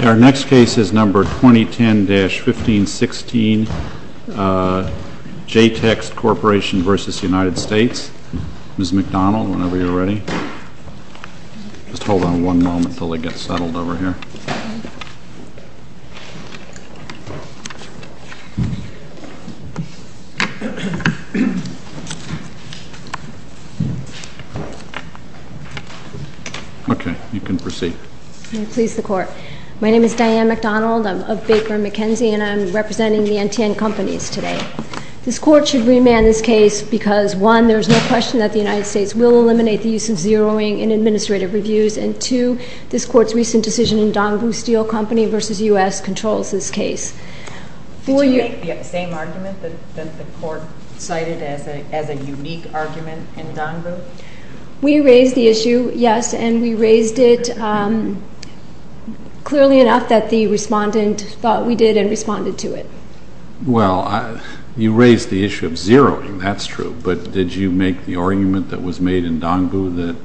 Our next case is number 2010-1516 JTEKT Corporation v. United States. Ms. McDonald, whenever you're ready. Just hold on one moment until they get settled over here. Okay, you can proceed. May it please the Court. My name is Diane McDonald. I'm of Baker & McKenzie, and I'm representing the NTN Companies today. This Court should remand this case because, one, there is no question that the United States will eliminate the use of zeroing in administrative reviews, and two, this Court's recent decision in Dongbu Steel Company v. U.S. controls this case. Did you make the same argument that the Court cited as a unique argument in Dongbu? We raised the issue, yes, and we raised it clearly enough that the respondent thought we did and responded to it. Well, you raised the issue of zeroing, that's true, but did you make the argument that was made in Dongbu that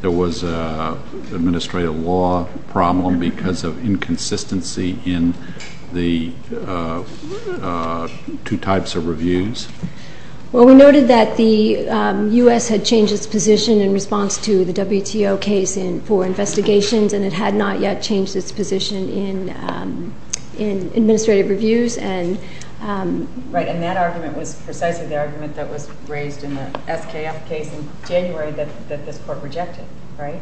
there was an administrative law problem because of inconsistency in the two types of reviews? Well, we noted that the U.S. had changed its position in response to the WTO case for investigations, and it had not yet changed its position in administrative reviews. Right, and that argument was precisely the argument that was raised in the SKF case in January that this Court rejected, right?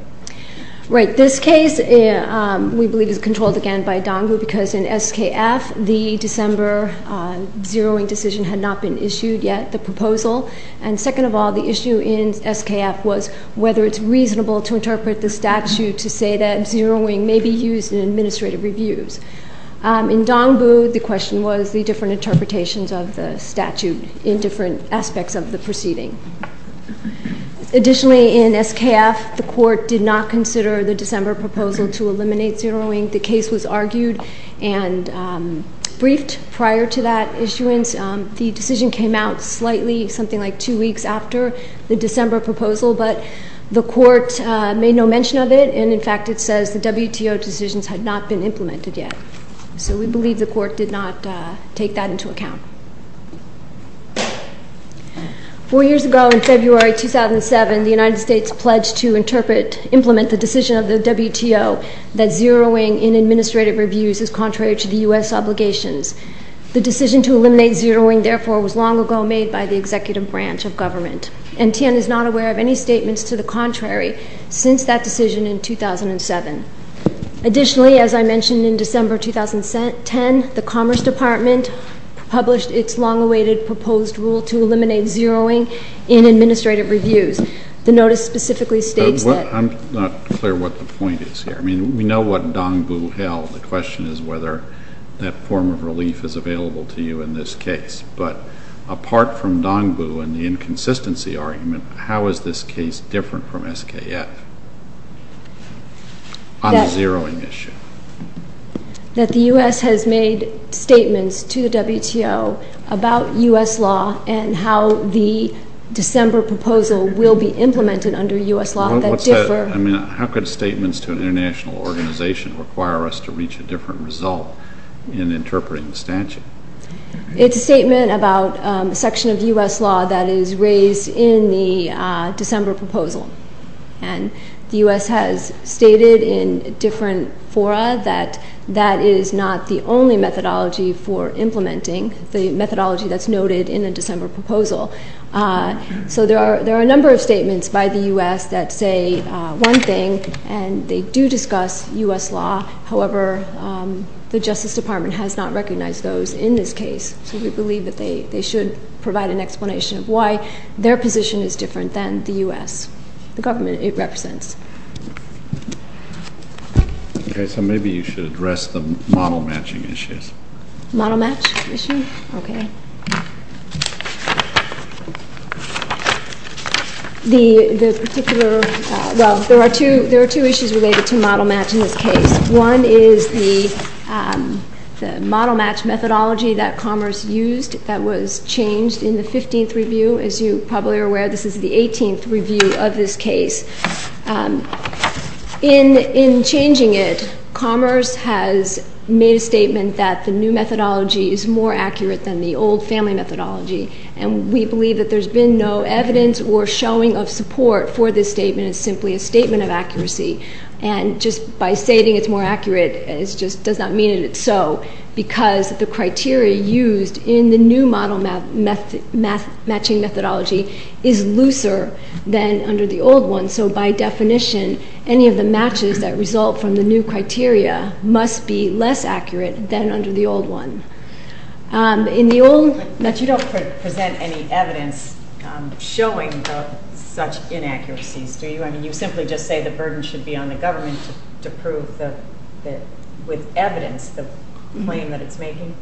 Right. This case, we believe, is controlled again by Dongbu because in SKF, the December zeroing decision had not been issued yet, the proposal, and second of all, the issue in SKF was whether it's reasonable to interpret the statute to say that zeroing may be used in administrative reviews. In Dongbu, the question was the different interpretations of the statute in different aspects of the proceeding. Additionally, in SKF, the Court did not consider the December proposal to eliminate zeroing. I think the case was argued and briefed prior to that issuance. The decision came out slightly, something like two weeks after the December proposal, but the Court made no mention of it, and in fact it says the WTO decisions had not been implemented yet. So we believe the Court did not take that into account. Four years ago in February 2007, the United States pledged to interpret, implement the decision of the WTO that zeroing in administrative reviews is contrary to the U.S. obligations. The decision to eliminate zeroing, therefore, was long ago made by the executive branch of government, and Tian is not aware of any statements to the contrary since that decision in 2007. Additionally, as I mentioned in December 2010, the Commerce Department published its long-awaited proposed rule to eliminate zeroing in administrative reviews. The notice specifically states that... I'm not clear what the point is here. I mean, we know what Dongbu held. The question is whether that form of relief is available to you in this case. But apart from Dongbu and the inconsistency argument, how is this case different from SKF on the zeroing issue? That the U.S. has made statements to the WTO about U.S. law and how the December proposal will be implemented under U.S. law that differ... I mean, how could statements to an international organization require us to reach a different result in interpreting the statute? It's a statement about a section of U.S. law that is raised in the December proposal. And, the U.S. has stated in different fora that that is not the only methodology for implementing the methodology that's noted in the December proposal. So, there are a number of statements by the U.S. that say one thing and they do discuss U.S. law. However, the Justice Department has not recognized those in this case. So, we believe that they should provide an explanation of why their position is different than the U.S., the government it represents. Okay. So, maybe you should address the model matching issues. Model match issue? Okay. The particular... well, there are two issues related to model match in this case. One is the model match methodology that Commerce used that was changed in the 15th review. As you probably are aware, this is the 18th review of this case. In changing it, Commerce has made a statement that the new methodology is more accurate than the old family methodology. And, we believe that there's been no evidence or showing of support for this statement. It's simply a statement of accuracy. And, just by stating it's more accurate, it just does not mean that it's so, because the criteria used in the new model matching methodology is looser than under the old one. So, by definition, any of the matches that result from the new criteria must be less accurate than under the old one. In the old... But, you don't present any evidence showing of such inaccuracies, do you? I mean, you simply just say the burden should be on the government to prove with evidence the claim that it's making.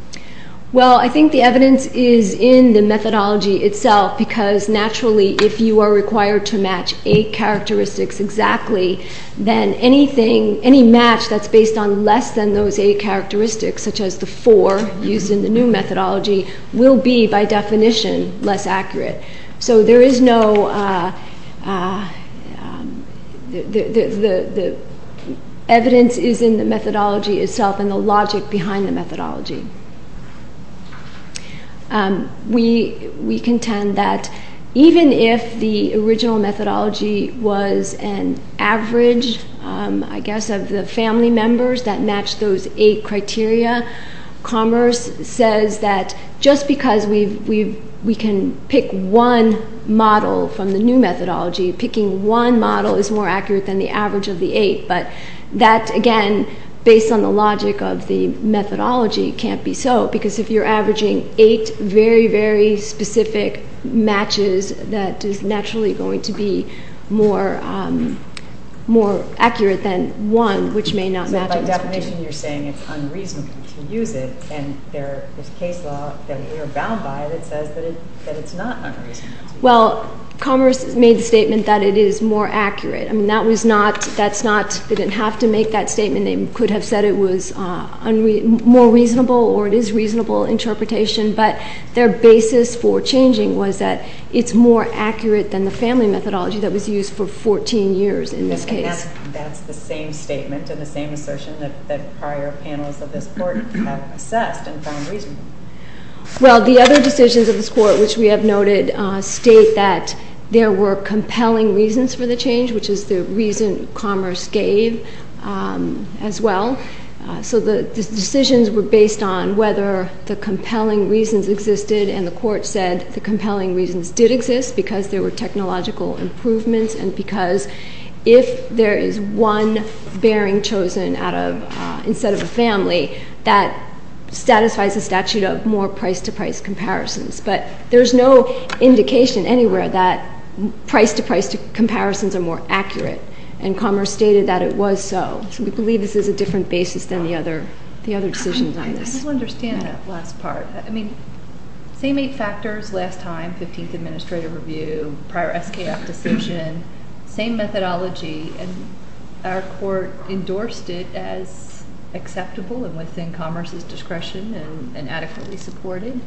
Well, I think the evidence is in the methodology itself, because, naturally, if you are required to match eight characteristics exactly, then anything, any match that's based on less than those eight characteristics, such as the four used in the new methodology, will be, by definition, less accurate. So, there is no... The evidence is in the methodology itself and the logic behind the methodology. We contend that even if the original methodology was an average, I guess, of the family members that matched those eight criteria, Commerce says that just because we can pick one model from the new methodology, picking one model is more accurate than the average of the eight. But that, again, based on the logic of the methodology, can't be so, because if you're averaging eight very, very specific matches, that is naturally going to be more accurate than one, which may not match... And there is case law that we are bound by that says that it's not unreasonable. Well, Commerce made the statement that it is more accurate. I mean, that was not... that's not... they didn't have to make that statement. They could have said it was more reasonable or it is reasonable interpretation, but their basis for changing was that it's more accurate than the family methodology that was used for 14 years in this case. That's the same statement and the same assertion that prior panels of this Court have assessed and found reasonable. Well, the other decisions of this Court, which we have noted, state that there were compelling reasons for the change, which is the reason Commerce gave as well. So, the decisions were based on whether the compelling reasons existed, and the Court said the compelling reasons did exist because there were technological improvements and because if there is one bearing chosen out of... instead of a family, that satisfies the statute of more price-to-price comparisons. But, there's no indication anywhere that price-to-price comparisons are more accurate, and Commerce stated that it was so. So, we believe this is a different basis than the other decisions on this. I don't understand that last part. I mean, same eight factors last time, 15th Administrative Review, prior SKF decision, same methodology, and our Court endorsed it as acceptable and within Commerce's discretion and adequately supported.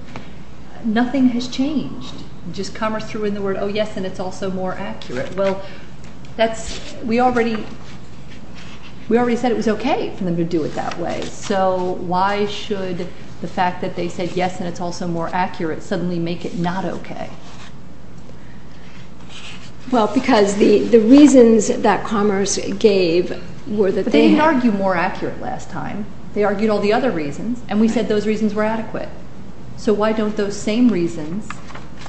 Nothing has changed. Just Commerce threw in the word, oh, yes, and it's also more accurate. Well, that's... we already said it was okay for them to do it that way. So, why should the fact that they said, yes, and it's also more accurate, suddenly make it not okay? Well, because the reasons that Commerce gave were that they... But, they didn't argue more accurate last time. They argued all the other reasons, and we said those reasons were adequate. So, why don't those same reasons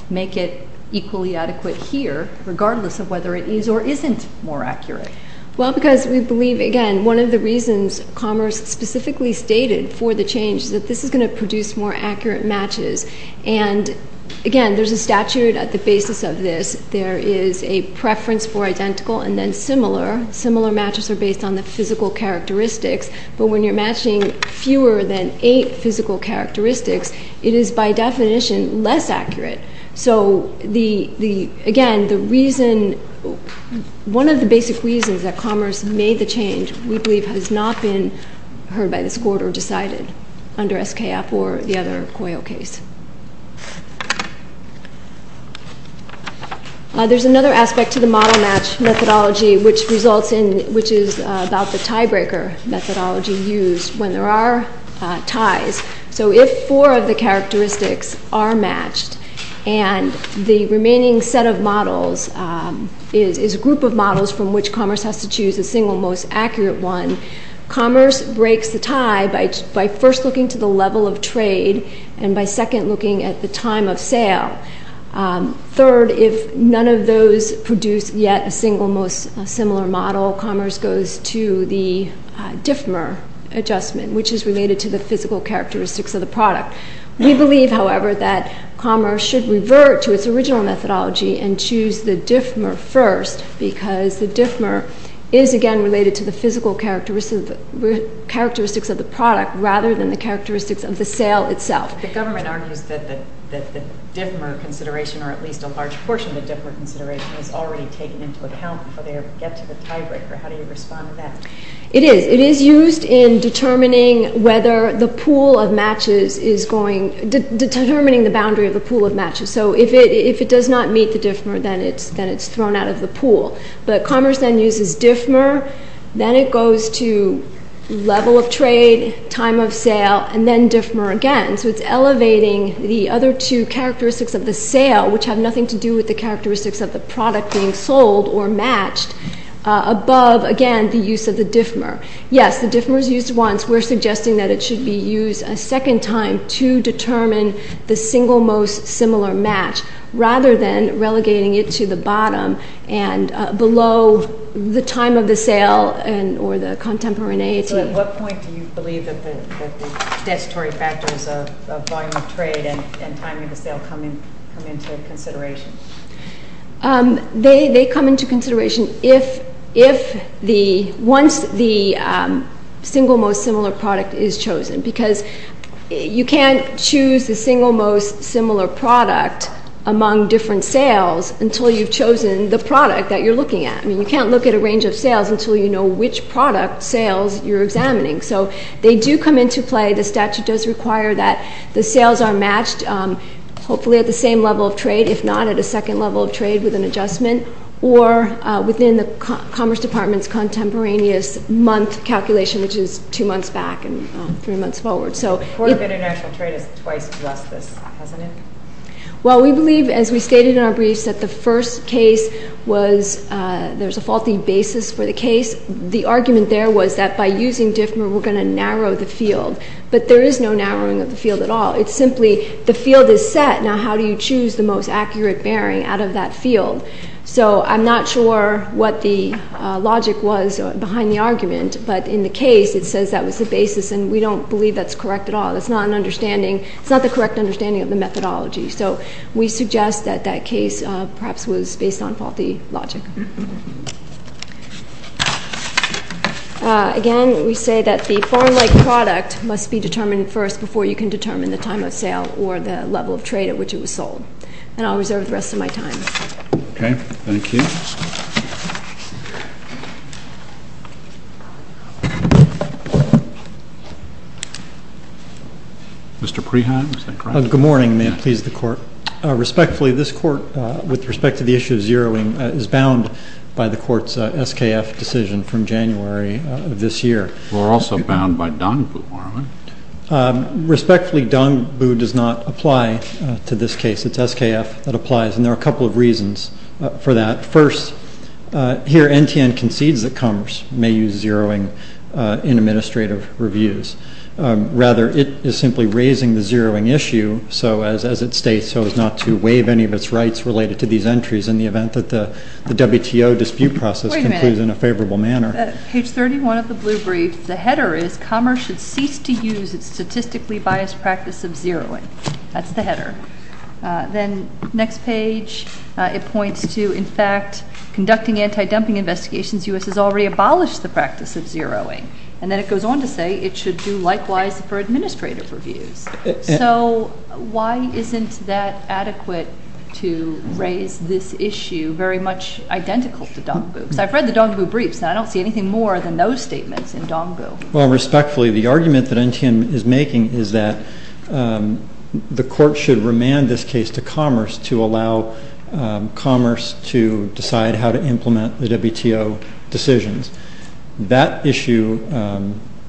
make it equally adequate here, regardless of whether it is or isn't more accurate? Well, because we believe, again, one of the reasons Commerce specifically stated for the change is that this is going to produce more accurate matches. And, again, there's a statute at the basis of this. There is a preference for identical and then similar. Similar matches are based on the physical characteristics. But, when you're matching fewer than eight physical characteristics, it is, by definition, less accurate. So, again, the reason... one of the basic reasons that Commerce made the change, we believe, has not been heard by the court or decided under SKF or the other COYO case. There's another aspect to the model match methodology, which results in... which is about the tiebreaker methodology used when there are ties. So, if four of the characteristics are matched and the remaining set of models is a group of models from which Commerce has to choose the single most accurate one, Commerce breaks the tie by first looking to the level of trade and by second looking at the time of sale. Third, if none of those produce yet a single most similar model, Commerce goes to the DIFMR adjustment, which is related to the physical characteristics of the product. We believe, however, that Commerce should revert to its original methodology and choose the DIFMR first because the DIFMR is, again, related to the physical characteristics of the product rather than the characteristics of the sale itself. The government argues that the DIFMR consideration, or at least a large portion of the DIFMR consideration, is already taken into account before they get to the tiebreaker. How do you respond to that? It is. It is used in determining whether the pool of matches is going... determining the boundary of the pool of matches. So, if it does not meet the DIFMR, then it's thrown out of the pool. But Commerce then uses DIFMR, then it goes to level of trade, time of sale, and then DIFMR again. So, it's elevating the other two characteristics of the sale, which have nothing to do with the characteristics of the product being sold or matched, above, again, the use of the DIFMR. Yes, the DIFMR is used once. We're suggesting that it should be used a second time to determine the single most similar match rather than relegating it to the bottom and below the time of the sale or the contemporaneity. So, at what point do you believe that the statutory factors of volume of trade and timing of the sale come into consideration? They come into consideration once the single most similar product is chosen. Because you can't choose the single most similar product among different sales until you've chosen the product that you're looking at. I mean, you can't look at a range of sales until you know which product sales you're examining. So, they do come into play. The statute does require that the sales are matched, hopefully at the same level of trade. If not, at a second level of trade with an adjustment or within the Commerce Department's contemporaneous month calculation, which is two months back and three months forward. So, the Court of International Trade has twice addressed this, hasn't it? Well, we believe, as we stated in our briefs, that the first case was there's a faulty basis for the case. The argument there was that by using DIFMR we're going to narrow the field. But there is no narrowing of the field at all. It's simply the field is set. Now, how do you choose the most accurate bearing out of that field? So, I'm not sure what the logic was behind the argument. But in the case, it says that was the basis, and we don't believe that's correct at all. It's not an understanding. It's not the correct understanding of the methodology. So, we suggest that that case perhaps was based on faulty logic. Again, we say that the foreign-like product must be determined first before you can determine the time of sale or the level of trade at which it was sold. And I'll reserve the rest of my time. Okay. Thank you. Mr. Preheim, is that correct? Good morning, and may it please the Court. Respectfully, this Court, with respect to the issue of zeroing, is bound by the Court's SKF decision from January of this year. We're also bound by Dongbu, aren't we? Respectfully, Dongbu does not apply to this case. It's SKF that applies, and there are a couple of reasons for that. First, here NTN concedes that Commerce may use zeroing in administrative reviews. Rather, it is simply raising the zeroing issue, as it states, so as not to waive any of its rights related to these entries in the event that the WTO dispute process concludes in a favorable manner. Wait a minute. Page 31 of the blue brief, the header is Commerce should cease to use its statistically biased practice of zeroing. That's the header. Then next page, it points to, in fact, conducting anti-dumping investigations, U.S. has already abolished the practice of zeroing. And then it goes on to say it should do likewise for administrative reviews. So why isn't that adequate to raise this issue very much identical to Dongbu? I've read the Dongbu briefs, and I don't see anything more than those statements in Dongbu. Well, respectfully, the argument that NTN is making is that the court should remand this case to Commerce to allow Commerce to decide how to implement the WTO decisions. That issue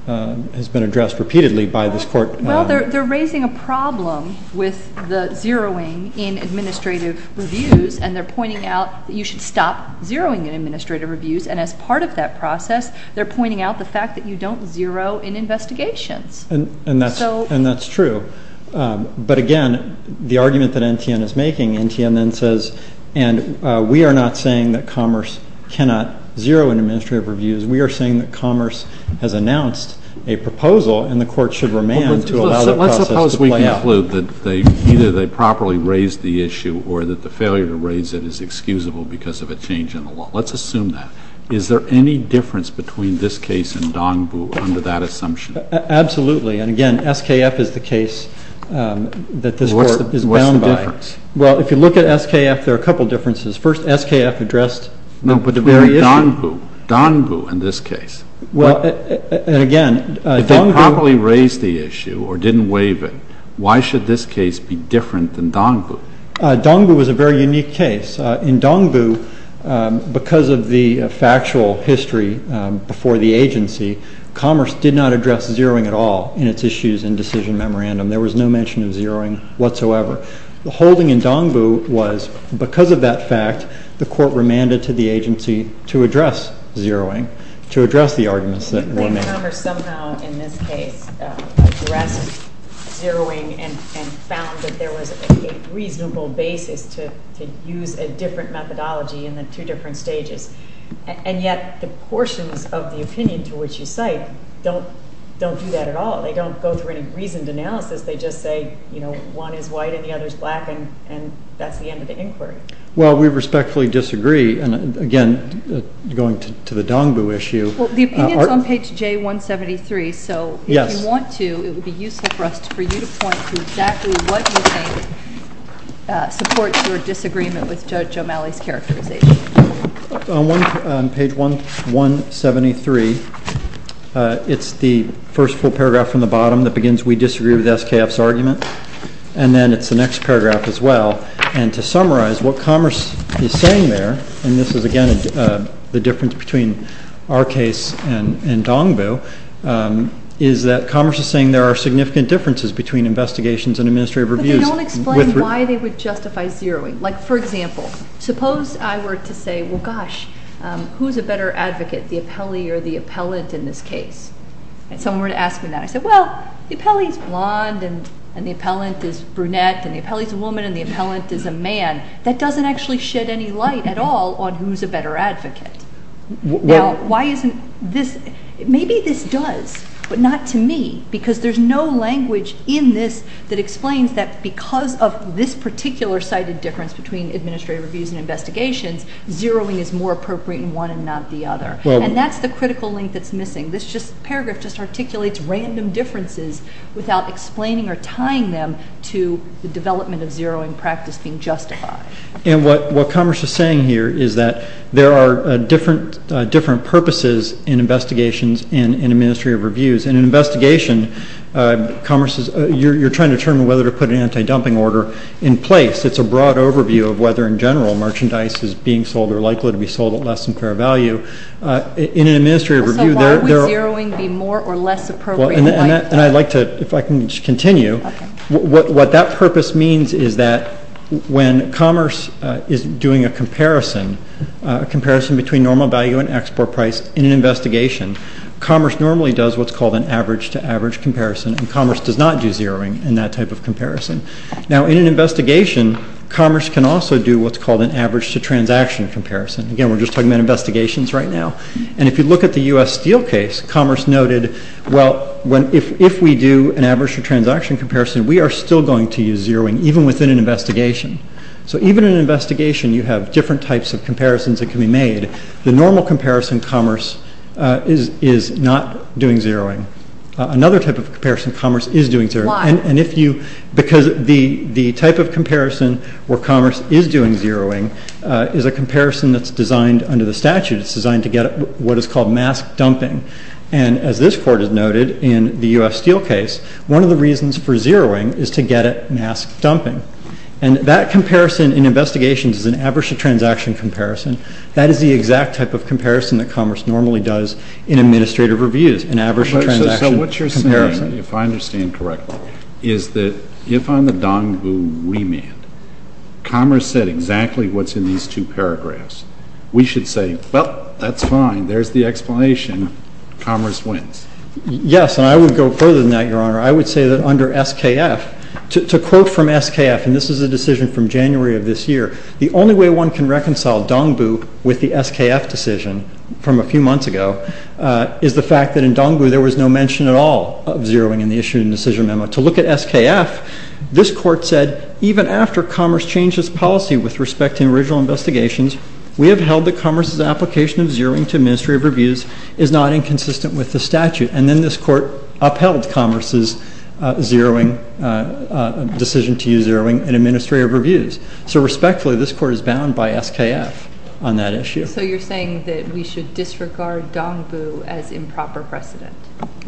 has been addressed repeatedly by this court. Well, they're raising a problem with the zeroing in administrative reviews, and they're pointing out that you should stop zeroing in administrative reviews. And as part of that process, they're pointing out the fact that you don't zero in investigations. And that's true. But, again, the argument that NTN is making, NTN then says, and we are not saying that Commerce cannot zero in administrative reviews. We are saying that Commerce has announced a proposal, and the court should remand to allow that process to play out. Well, let's suppose we conclude that either they properly raised the issue or that the failure to raise it is excusable because of a change in the law. Let's assume that. Is there any difference between this case and Dongbu under that assumption? Absolutely. And, again, SKF is the case that this court is bound by. What's the difference? Well, if you look at SKF, there are a couple of differences. First, SKF addressed the very issue. No, but Dongbu. Dongbu in this case. Well, and, again, Dongbu. If they properly raised the issue or didn't waive it, why should this case be different than Dongbu? Dongbu is a very unique case. In Dongbu, because of the factual history before the agency, Commerce did not address zeroing at all in its issues and decision memorandum. There was no mention of zeroing whatsoever. The holding in Dongbu was, because of that fact, the court remanded to the agency to address zeroing, to address the arguments that were made. Commerce somehow, in this case, addressed zeroing and found that there was a reasonable basis to use a different methodology in the two different stages. And yet the portions of the opinion to which you cite don't do that at all. They don't go through any reasoned analysis. They just say, you know, one is white and the other is black, and that's the end of the inquiry. Well, we respectfully disagree. And, again, going to the Dongbu issue. Well, the opinion is on page J173, so if you want to, it would be useful for us for you to point to exactly what you think supports your disagreement with Judge O'Malley's characterization. On page 173, it's the first full paragraph from the bottom that begins, we disagree with SKF's argument, and then it's the next paragraph as well. And to summarize, what Commerce is saying there, and this is, again, the difference between our case and Dongbu, is that Commerce is saying there are significant differences between investigations and administrative reviews. But they don't explain why they would justify zeroing. Like, for example, suppose I were to say, well, gosh, who's a better advocate, the appellee or the appellant in this case? And someone were to ask me that. And I say, well, the appellee's blonde, and the appellant is brunette, and the appellee's a woman, and the appellant is a man. That doesn't actually shed any light at all on who's a better advocate. Now, why isn't this – maybe this does, but not to me, because there's no language in this that explains that because of this particular sighted difference between administrative reviews and investigations, zeroing is more appropriate in one and not the other. And that's the critical link that's missing. This paragraph just articulates random differences without explaining or tying them to the development of zeroing practice being justified. And what Commerce is saying here is that there are different purposes in investigations and administrative reviews. In an investigation, Commerce is – you're trying to determine whether to put an anti-dumping order in place. It's a broad overview of whether, in general, merchandise is being sold or likely to be sold at less than fair value. In an administrative review, there are – So why would zeroing be more or less appropriate? And I'd like to – if I can continue. What that purpose means is that when Commerce is doing a comparison, a comparison between normal value and export price in an investigation, Commerce normally does what's called an average-to-average comparison, and Commerce does not do zeroing in that type of comparison. Now, in an investigation, Commerce can also do what's called an average-to-transaction comparison. Again, we're just talking about investigations right now. And if you look at the U.S. Steel case, Commerce noted, well, if we do an average-to-transaction comparison, we are still going to use zeroing, even within an investigation. So even in an investigation, you have different types of comparisons that can be made. The normal comparison, Commerce is not doing zeroing. Why? Because the type of comparison where Commerce is doing zeroing is a comparison that's designed under the statute. It's designed to get at what is called mask dumping. And as this Court has noted in the U.S. Steel case, one of the reasons for zeroing is to get at mask dumping. And that comparison in investigations is an average-to-transaction comparison. That is the exact type of comparison that Commerce normally does in administrative reviews, an average-to-transaction comparison. If I understand correctly, is that if on the Dongbu remand, Commerce said exactly what's in these two paragraphs, we should say, well, that's fine. There's the explanation. Commerce wins. Yes, and I would go further than that, Your Honor. I would say that under SKF, to quote from SKF, and this is a decision from January of this year, the only way one can reconcile Dongbu with the SKF decision from a few months ago is the fact that in Dongbu there was no mention at all of zeroing in the issue in the decision memo. To look at SKF, this Court said, even after Commerce changed its policy with respect to original investigations, we have held that Commerce's application of zeroing to administrative reviews is not inconsistent with the statute. And then this Court upheld Commerce's decision to use zeroing in administrative reviews. So respectfully, this Court is bound by SKF on that issue. So you're saying that we should disregard Dongbu as improper precedent.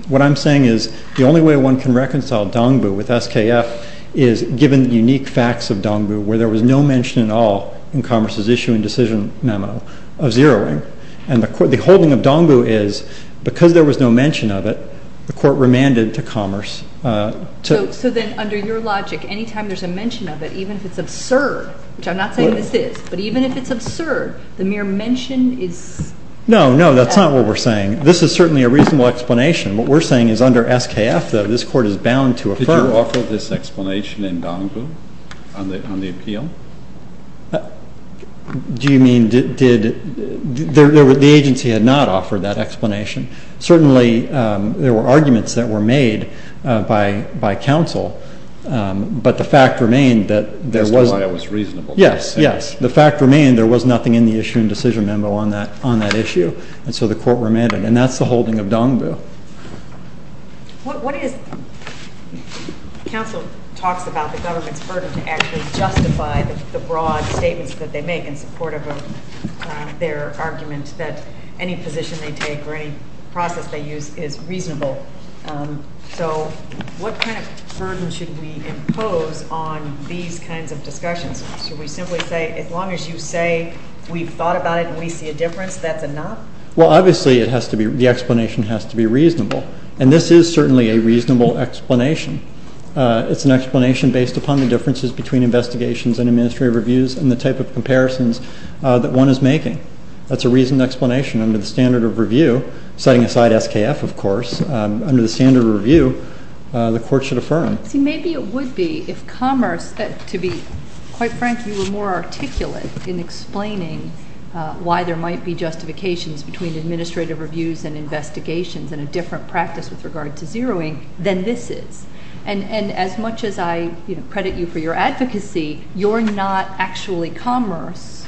What I'm saying is the only way one can reconcile Dongbu with SKF is given unique facts of Dongbu where there was no mention at all in Commerce's issue in decision memo of zeroing. And the holding of Dongbu is because there was no mention of it, the Court remanded to Commerce. So then under your logic, anytime there's a mention of it, even if it's absurd, which I'm not saying this is, but even if it's absurd, the mere mention is... No, no, that's not what we're saying. This is certainly a reasonable explanation. What we're saying is under SKF, though, this Court is bound to affirm... Did you offer this explanation in Dongbu on the appeal? Do you mean did...the agency had not offered that explanation. Certainly, there were arguments that were made by counsel, but the fact remained that there was... the fact remained there was nothing in the issue in decision memo on that issue, and so the Court remanded. And that's the holding of Dongbu. What is... counsel talks about the government's burden to actually justify the broad statements that they make in support of their argument that any position they take or any process they use is reasonable. So what kind of burden should we impose on these kinds of discussions? Should we simply say, as long as you say we've thought about it and we see a difference, that's enough? Well, obviously, it has to be...the explanation has to be reasonable, and this is certainly a reasonable explanation. It's an explanation based upon the differences between investigations and administrative reviews and the type of comparisons that one is making. That's a reasonable explanation under the standard of review, setting aside SKF, of course. Under the standard of review, the Court should affirm. See, maybe it would be if commerce, to be quite frank, you were more articulate in explaining why there might be justifications between administrative reviews and investigations and a different practice with regard to zeroing than this is. And as much as I credit you for your advocacy, you're not actually commerce,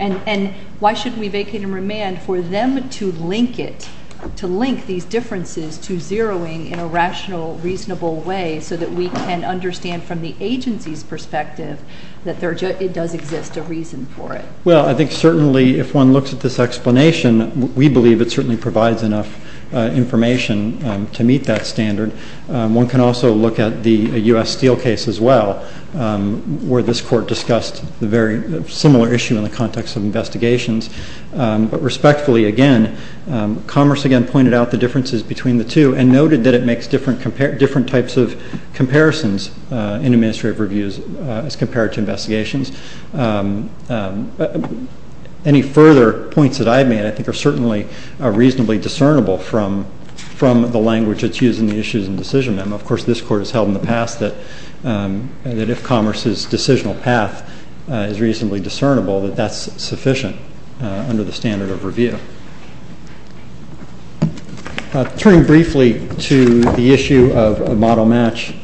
and why should we vacate and remand for them to link it, to link these differences to zeroing in a rational, reasonable way so that we can understand from the agency's perspective that it does exist a reason for it? Well, I think certainly if one looks at this explanation, we believe it certainly provides enough information to meet that standard. One can also look at the U.S. Steel case as well, where this Court discussed a very similar issue in the context of investigations. But respectfully, again, commerce again pointed out the differences between the two and noted that it makes different types of comparisons in administrative reviews as compared to investigations. Any further points that I've made I think are certainly reasonably discernible from the language that's used in the issues and decision. Of course, this Court has held in the past that if commerce's decisional path is reasonably discernible, that that's sufficient under the standard of review. Turning briefly to the issue of model match,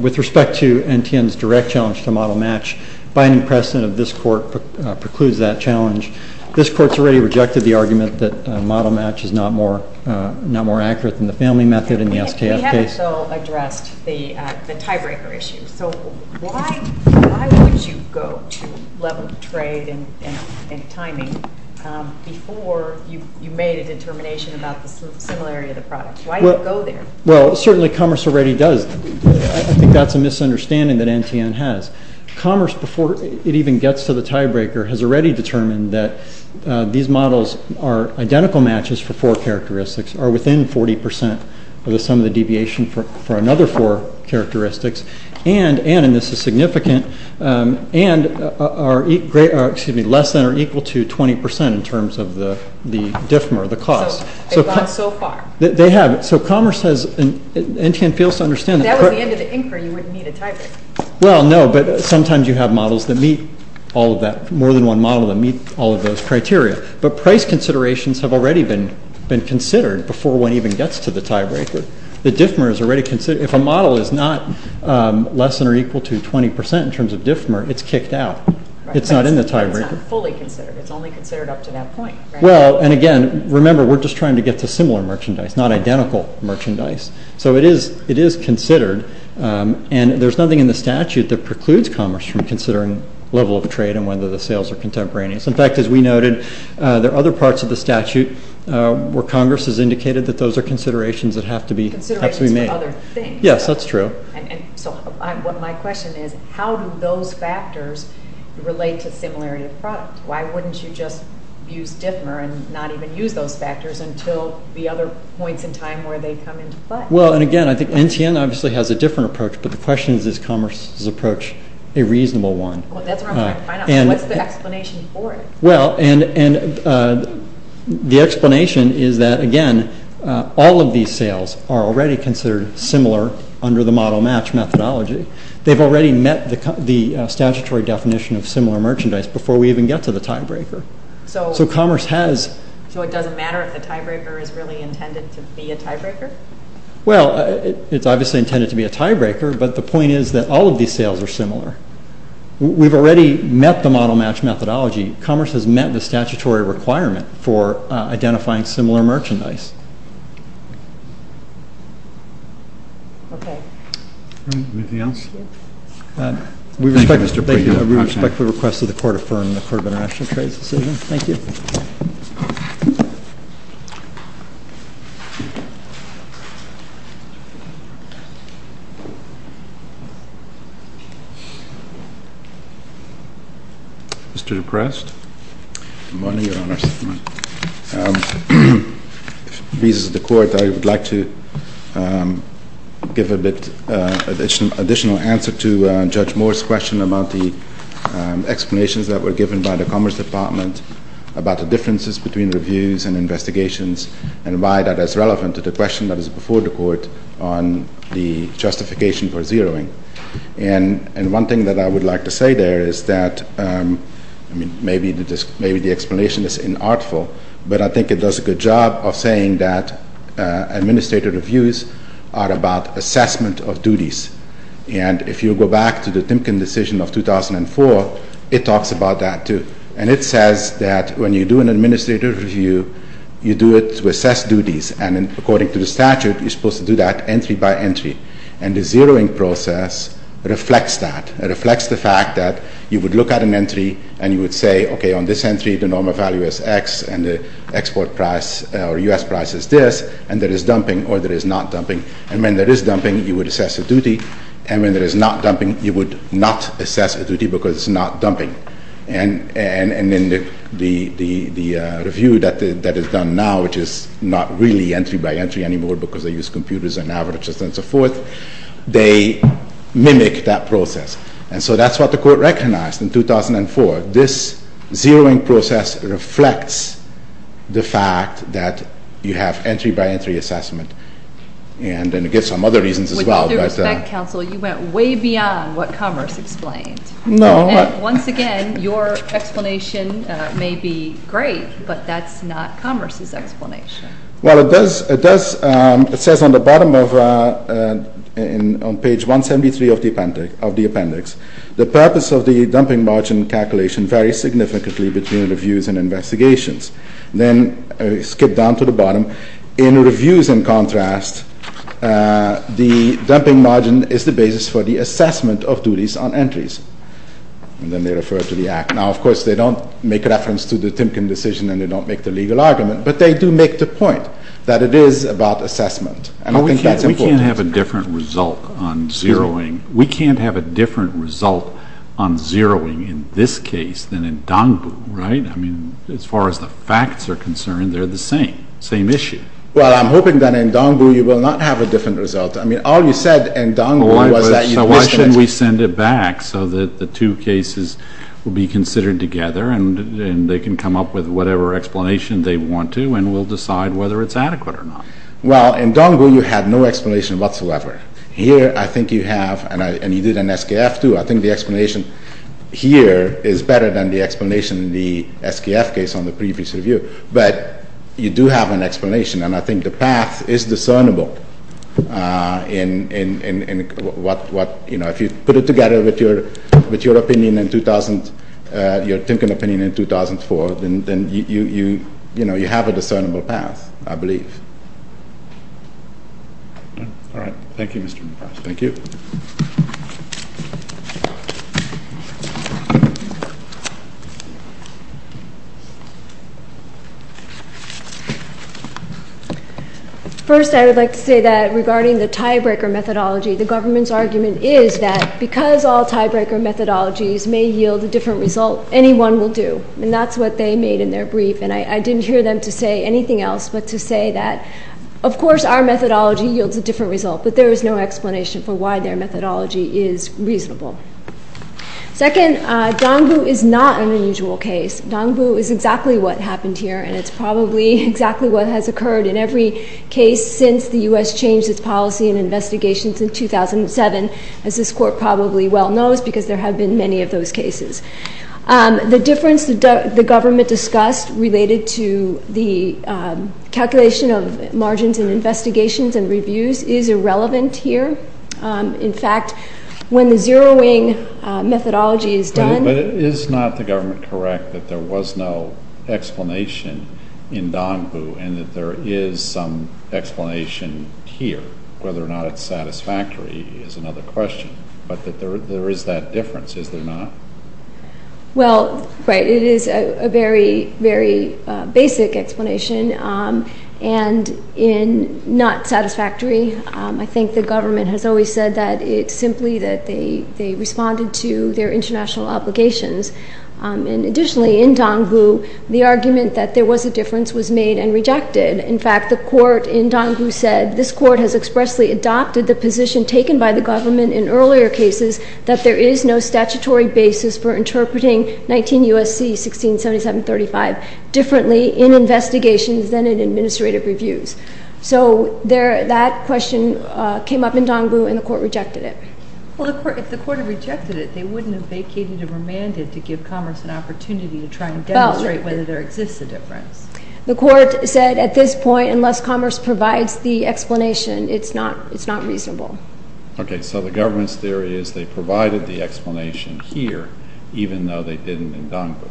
with respect to NTN's direct challenge to model match, binding precedent of this Court precludes that challenge. This Court's already rejected the argument that model match is not more accurate than the family method in the STF case. We haven't so addressed the tiebreaker issue. So why would you go to level of trade and timing before you made a determination about the similarity of the product? Why do you go there? Well, certainly commerce already does. I think that's a misunderstanding that NTN has. Commerce, before it even gets to the tiebreaker, has already determined that these models are identical matches for four characteristics, are within 40 percent of the sum of the deviation for another four characteristics, and, and, and this is significant, and are less than or equal to 20 percent in terms of the DIFMA or the cost. So they've gone so far. They have. So commerce has, NTN fails to understand that. If that was the end of the inquiry, you wouldn't need a tiebreaker. Well, no, but sometimes you have models that meet all of that, more than one model that meet all of those criteria. But price considerations have already been, been considered before one even gets to the tiebreaker. The DIFMA is already considered. If a model is not less than or equal to 20 percent in terms of DIFMA, it's kicked out. It's not in the tiebreaker. It's not fully considered. It's only considered up to that point. Well, and again, remember, we're just trying to get to similar merchandise, not identical merchandise. So it is, it is considered, and there's nothing in the statute that precludes commerce from considering level of trade and whether the sales are contemporaneous. In fact, as we noted, there are other parts of the statute where Congress has indicated that those are considerations that have to be, have to be made. Considerations for other things. Yes, that's true. And so what my question is, how do those factors relate to similarity of product? Why wouldn't you just use DIFMA and not even use those factors until the other points in time where they come into play? Well, and again, I think NTN obviously has a different approach, but the question is, is commerce's approach a reasonable one? What's the explanation for it? Well, and the explanation is that, again, all of these sales are already considered similar under the model match methodology. They've already met the statutory definition of similar merchandise before we even get to the tiebreaker. So commerce has. So it doesn't matter if the tiebreaker is really intended to be a tiebreaker? Well, it's obviously intended to be a tiebreaker, but the point is that all of these sales are similar. We've already met the model match methodology. Commerce has met the statutory requirement for identifying similar merchandise. Okay. Anything else? We respect the request of the Court of Firm and the Court of International Trade's decision. Thank you. Mr. DePrest. Good morning, Your Honor. If it pleases the Court, I would like to give a bit additional answer to Judge Moore's question about the explanations that were given by the Commerce Department about the differences between reviews and investigations and why that is relevant to the question that is before the Court on the justification for zeroing. And one thing that I would like to say there is that, I mean, maybe the explanation is inartful, but I think it does a good job of saying that administrative reviews are about assessment of duties. And if you go back to the Timken decision of 2004, it talks about that, too. And it says that when you do an administrative review, you do it to assess duties. And according to the statute, you're supposed to do that entry by entry. And the zeroing process reflects that. It reflects the fact that you would look at an entry, and you would say, okay, on this entry, the normal value is X, and the export price or U.S. price is this, and there is dumping or there is not dumping. And when there is dumping, you would assess a duty. And when there is not dumping, you would not assess a duty because it's not dumping. And in the review that is done now, which is not really entry by entry anymore because they use computers and averages and so forth, they mimic that process. And so that's what the Court recognized in 2004. This zeroing process reflects the fact that you have entry by entry assessment. And it gets some other reasons as well. With due respect, Counsel, you went way beyond what Commerce explained. No. Once again, your explanation may be great, but that's not Commerce's explanation. Well, it does. It does. It says on the bottom of page 173 of the appendix, the purpose of the dumping margin calculation varies significantly between reviews and investigations. Then skip down to the bottom. In reviews, in contrast, the dumping margin is the basis for the assessment of duties on entries. And then they refer to the Act. Now, of course, they don't make reference to the Timken decision and they don't make the legal argument, but they do make the point that it is about assessment. And I think that's important. We can't have a different result on zeroing. We can't have a different result on zeroing in this case than in Dongbu, right? I mean, as far as the facts are concerned, they're the same, same issue. Well, I'm hoping that in Dongbu you will not have a different result. I mean, all you said in Dongbu was that you'd risk an explanation. So why shouldn't we send it back so that the two cases will be considered together and they can come up with whatever explanation they want to and we'll decide whether it's adequate or not. Well, in Dongbu you had no explanation whatsoever. Here I think you have, and you did in SKF too, I think the explanation here is better than the explanation in the SKF case on the previous review. But you do have an explanation, and I think the path is discernible in what, you know, if you put it together with your opinion in 2000, your Timken opinion in 2004, then you have a discernible path, I believe. All right. Thank you, Mr. McGrath. Thank you. First, I would like to say that regarding the tiebreaker methodology, the government's argument is that because all tiebreaker methodologies may yield a different result, anyone will do, and that's what they made in their brief. And I didn't hear them to say anything else but to say that, of course, our methodology yields a different result, but there is no explanation for why their methodology is reasonable. Second, Dongbu is not an unusual case. Dongbu is exactly what happened here, and it's probably exactly what has occurred in every case since the U.S. changed its policy and investigations in 2007, as this Court probably well knows because there have been many of those cases. The difference the government discussed related to the calculation of margins in investigations and reviews is irrelevant here. In fact, when the zeroing methodology is done... But is not the government correct that there was no explanation in Dongbu and that there is some explanation here? Whether or not it's satisfactory is another question, but that there is that difference, is there not? Well, right, it is a very, very basic explanation, and in not satisfactory, I think the government has always said that it's simply that they responded to their international obligations. And additionally, in Dongbu, the argument that there was a difference was made and rejected. In fact, the Court in Dongbu said, this Court has expressly adopted the position taken by the government in earlier cases that there is no statutory basis for interpreting 19 U.S.C. 1677-35 differently in investigations than in administrative reviews. So that question came up in Dongbu, and the Court rejected it. Well, if the Court had rejected it, they wouldn't have vacated and remanded to give commerce an opportunity to try and demonstrate whether there exists a difference. The Court said at this point, unless commerce provides the explanation, it's not reasonable. Okay, so the government's theory is they provided the explanation here, even though they didn't in Dongbu.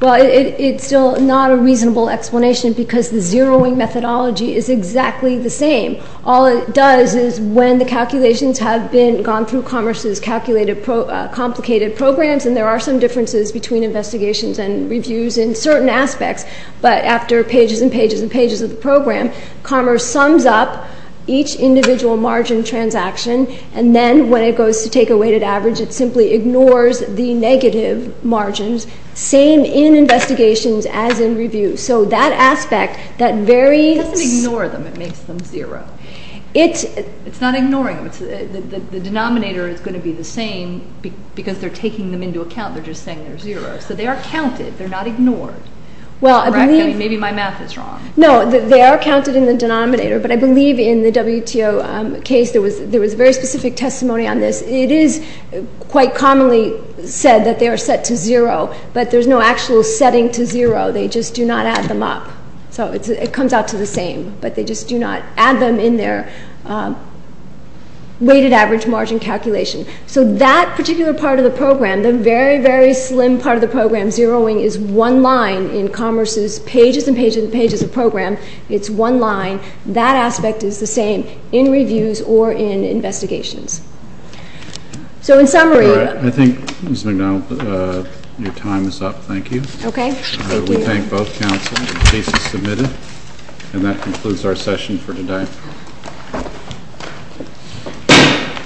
Well, it's still not a reasonable explanation because the zeroing methodology is exactly the same. All it does is when the calculations have gone through commerce's complicated programs, and there are some differences between investigations and reviews in certain aspects, but after pages and pages and pages of the program, commerce sums up each individual margin transaction, and then when it goes to take a weighted average, it simply ignores the negative margins, same in investigations as in reviews. So that aspect, that very... It doesn't ignore them. It makes them zero. It's... It's not ignoring them. The denominator is going to be the same because they're taking them into account. They're just saying they're zero. So they are counted. They're not ignored. Well, I believe... Maybe my math is wrong. No, they are counted in the denominator, but I believe in the WTO case there was very specific testimony on this. It is quite commonly said that they are set to zero, but there's no actual setting to zero. They just do not add them up. So it comes out to the same, but they just do not add them in their weighted average margin calculation. So that particular part of the program, the very, very slim part of the program, zeroing is one line in Commerce's pages and pages and pages of program. It's one line. That aspect is the same in reviews or in investigations. So in summary... All right. I think, Ms. McDonald, your time is up. Thank you. Okay. Thank you. We thank both counsel. The case is submitted, and that concludes our session for today.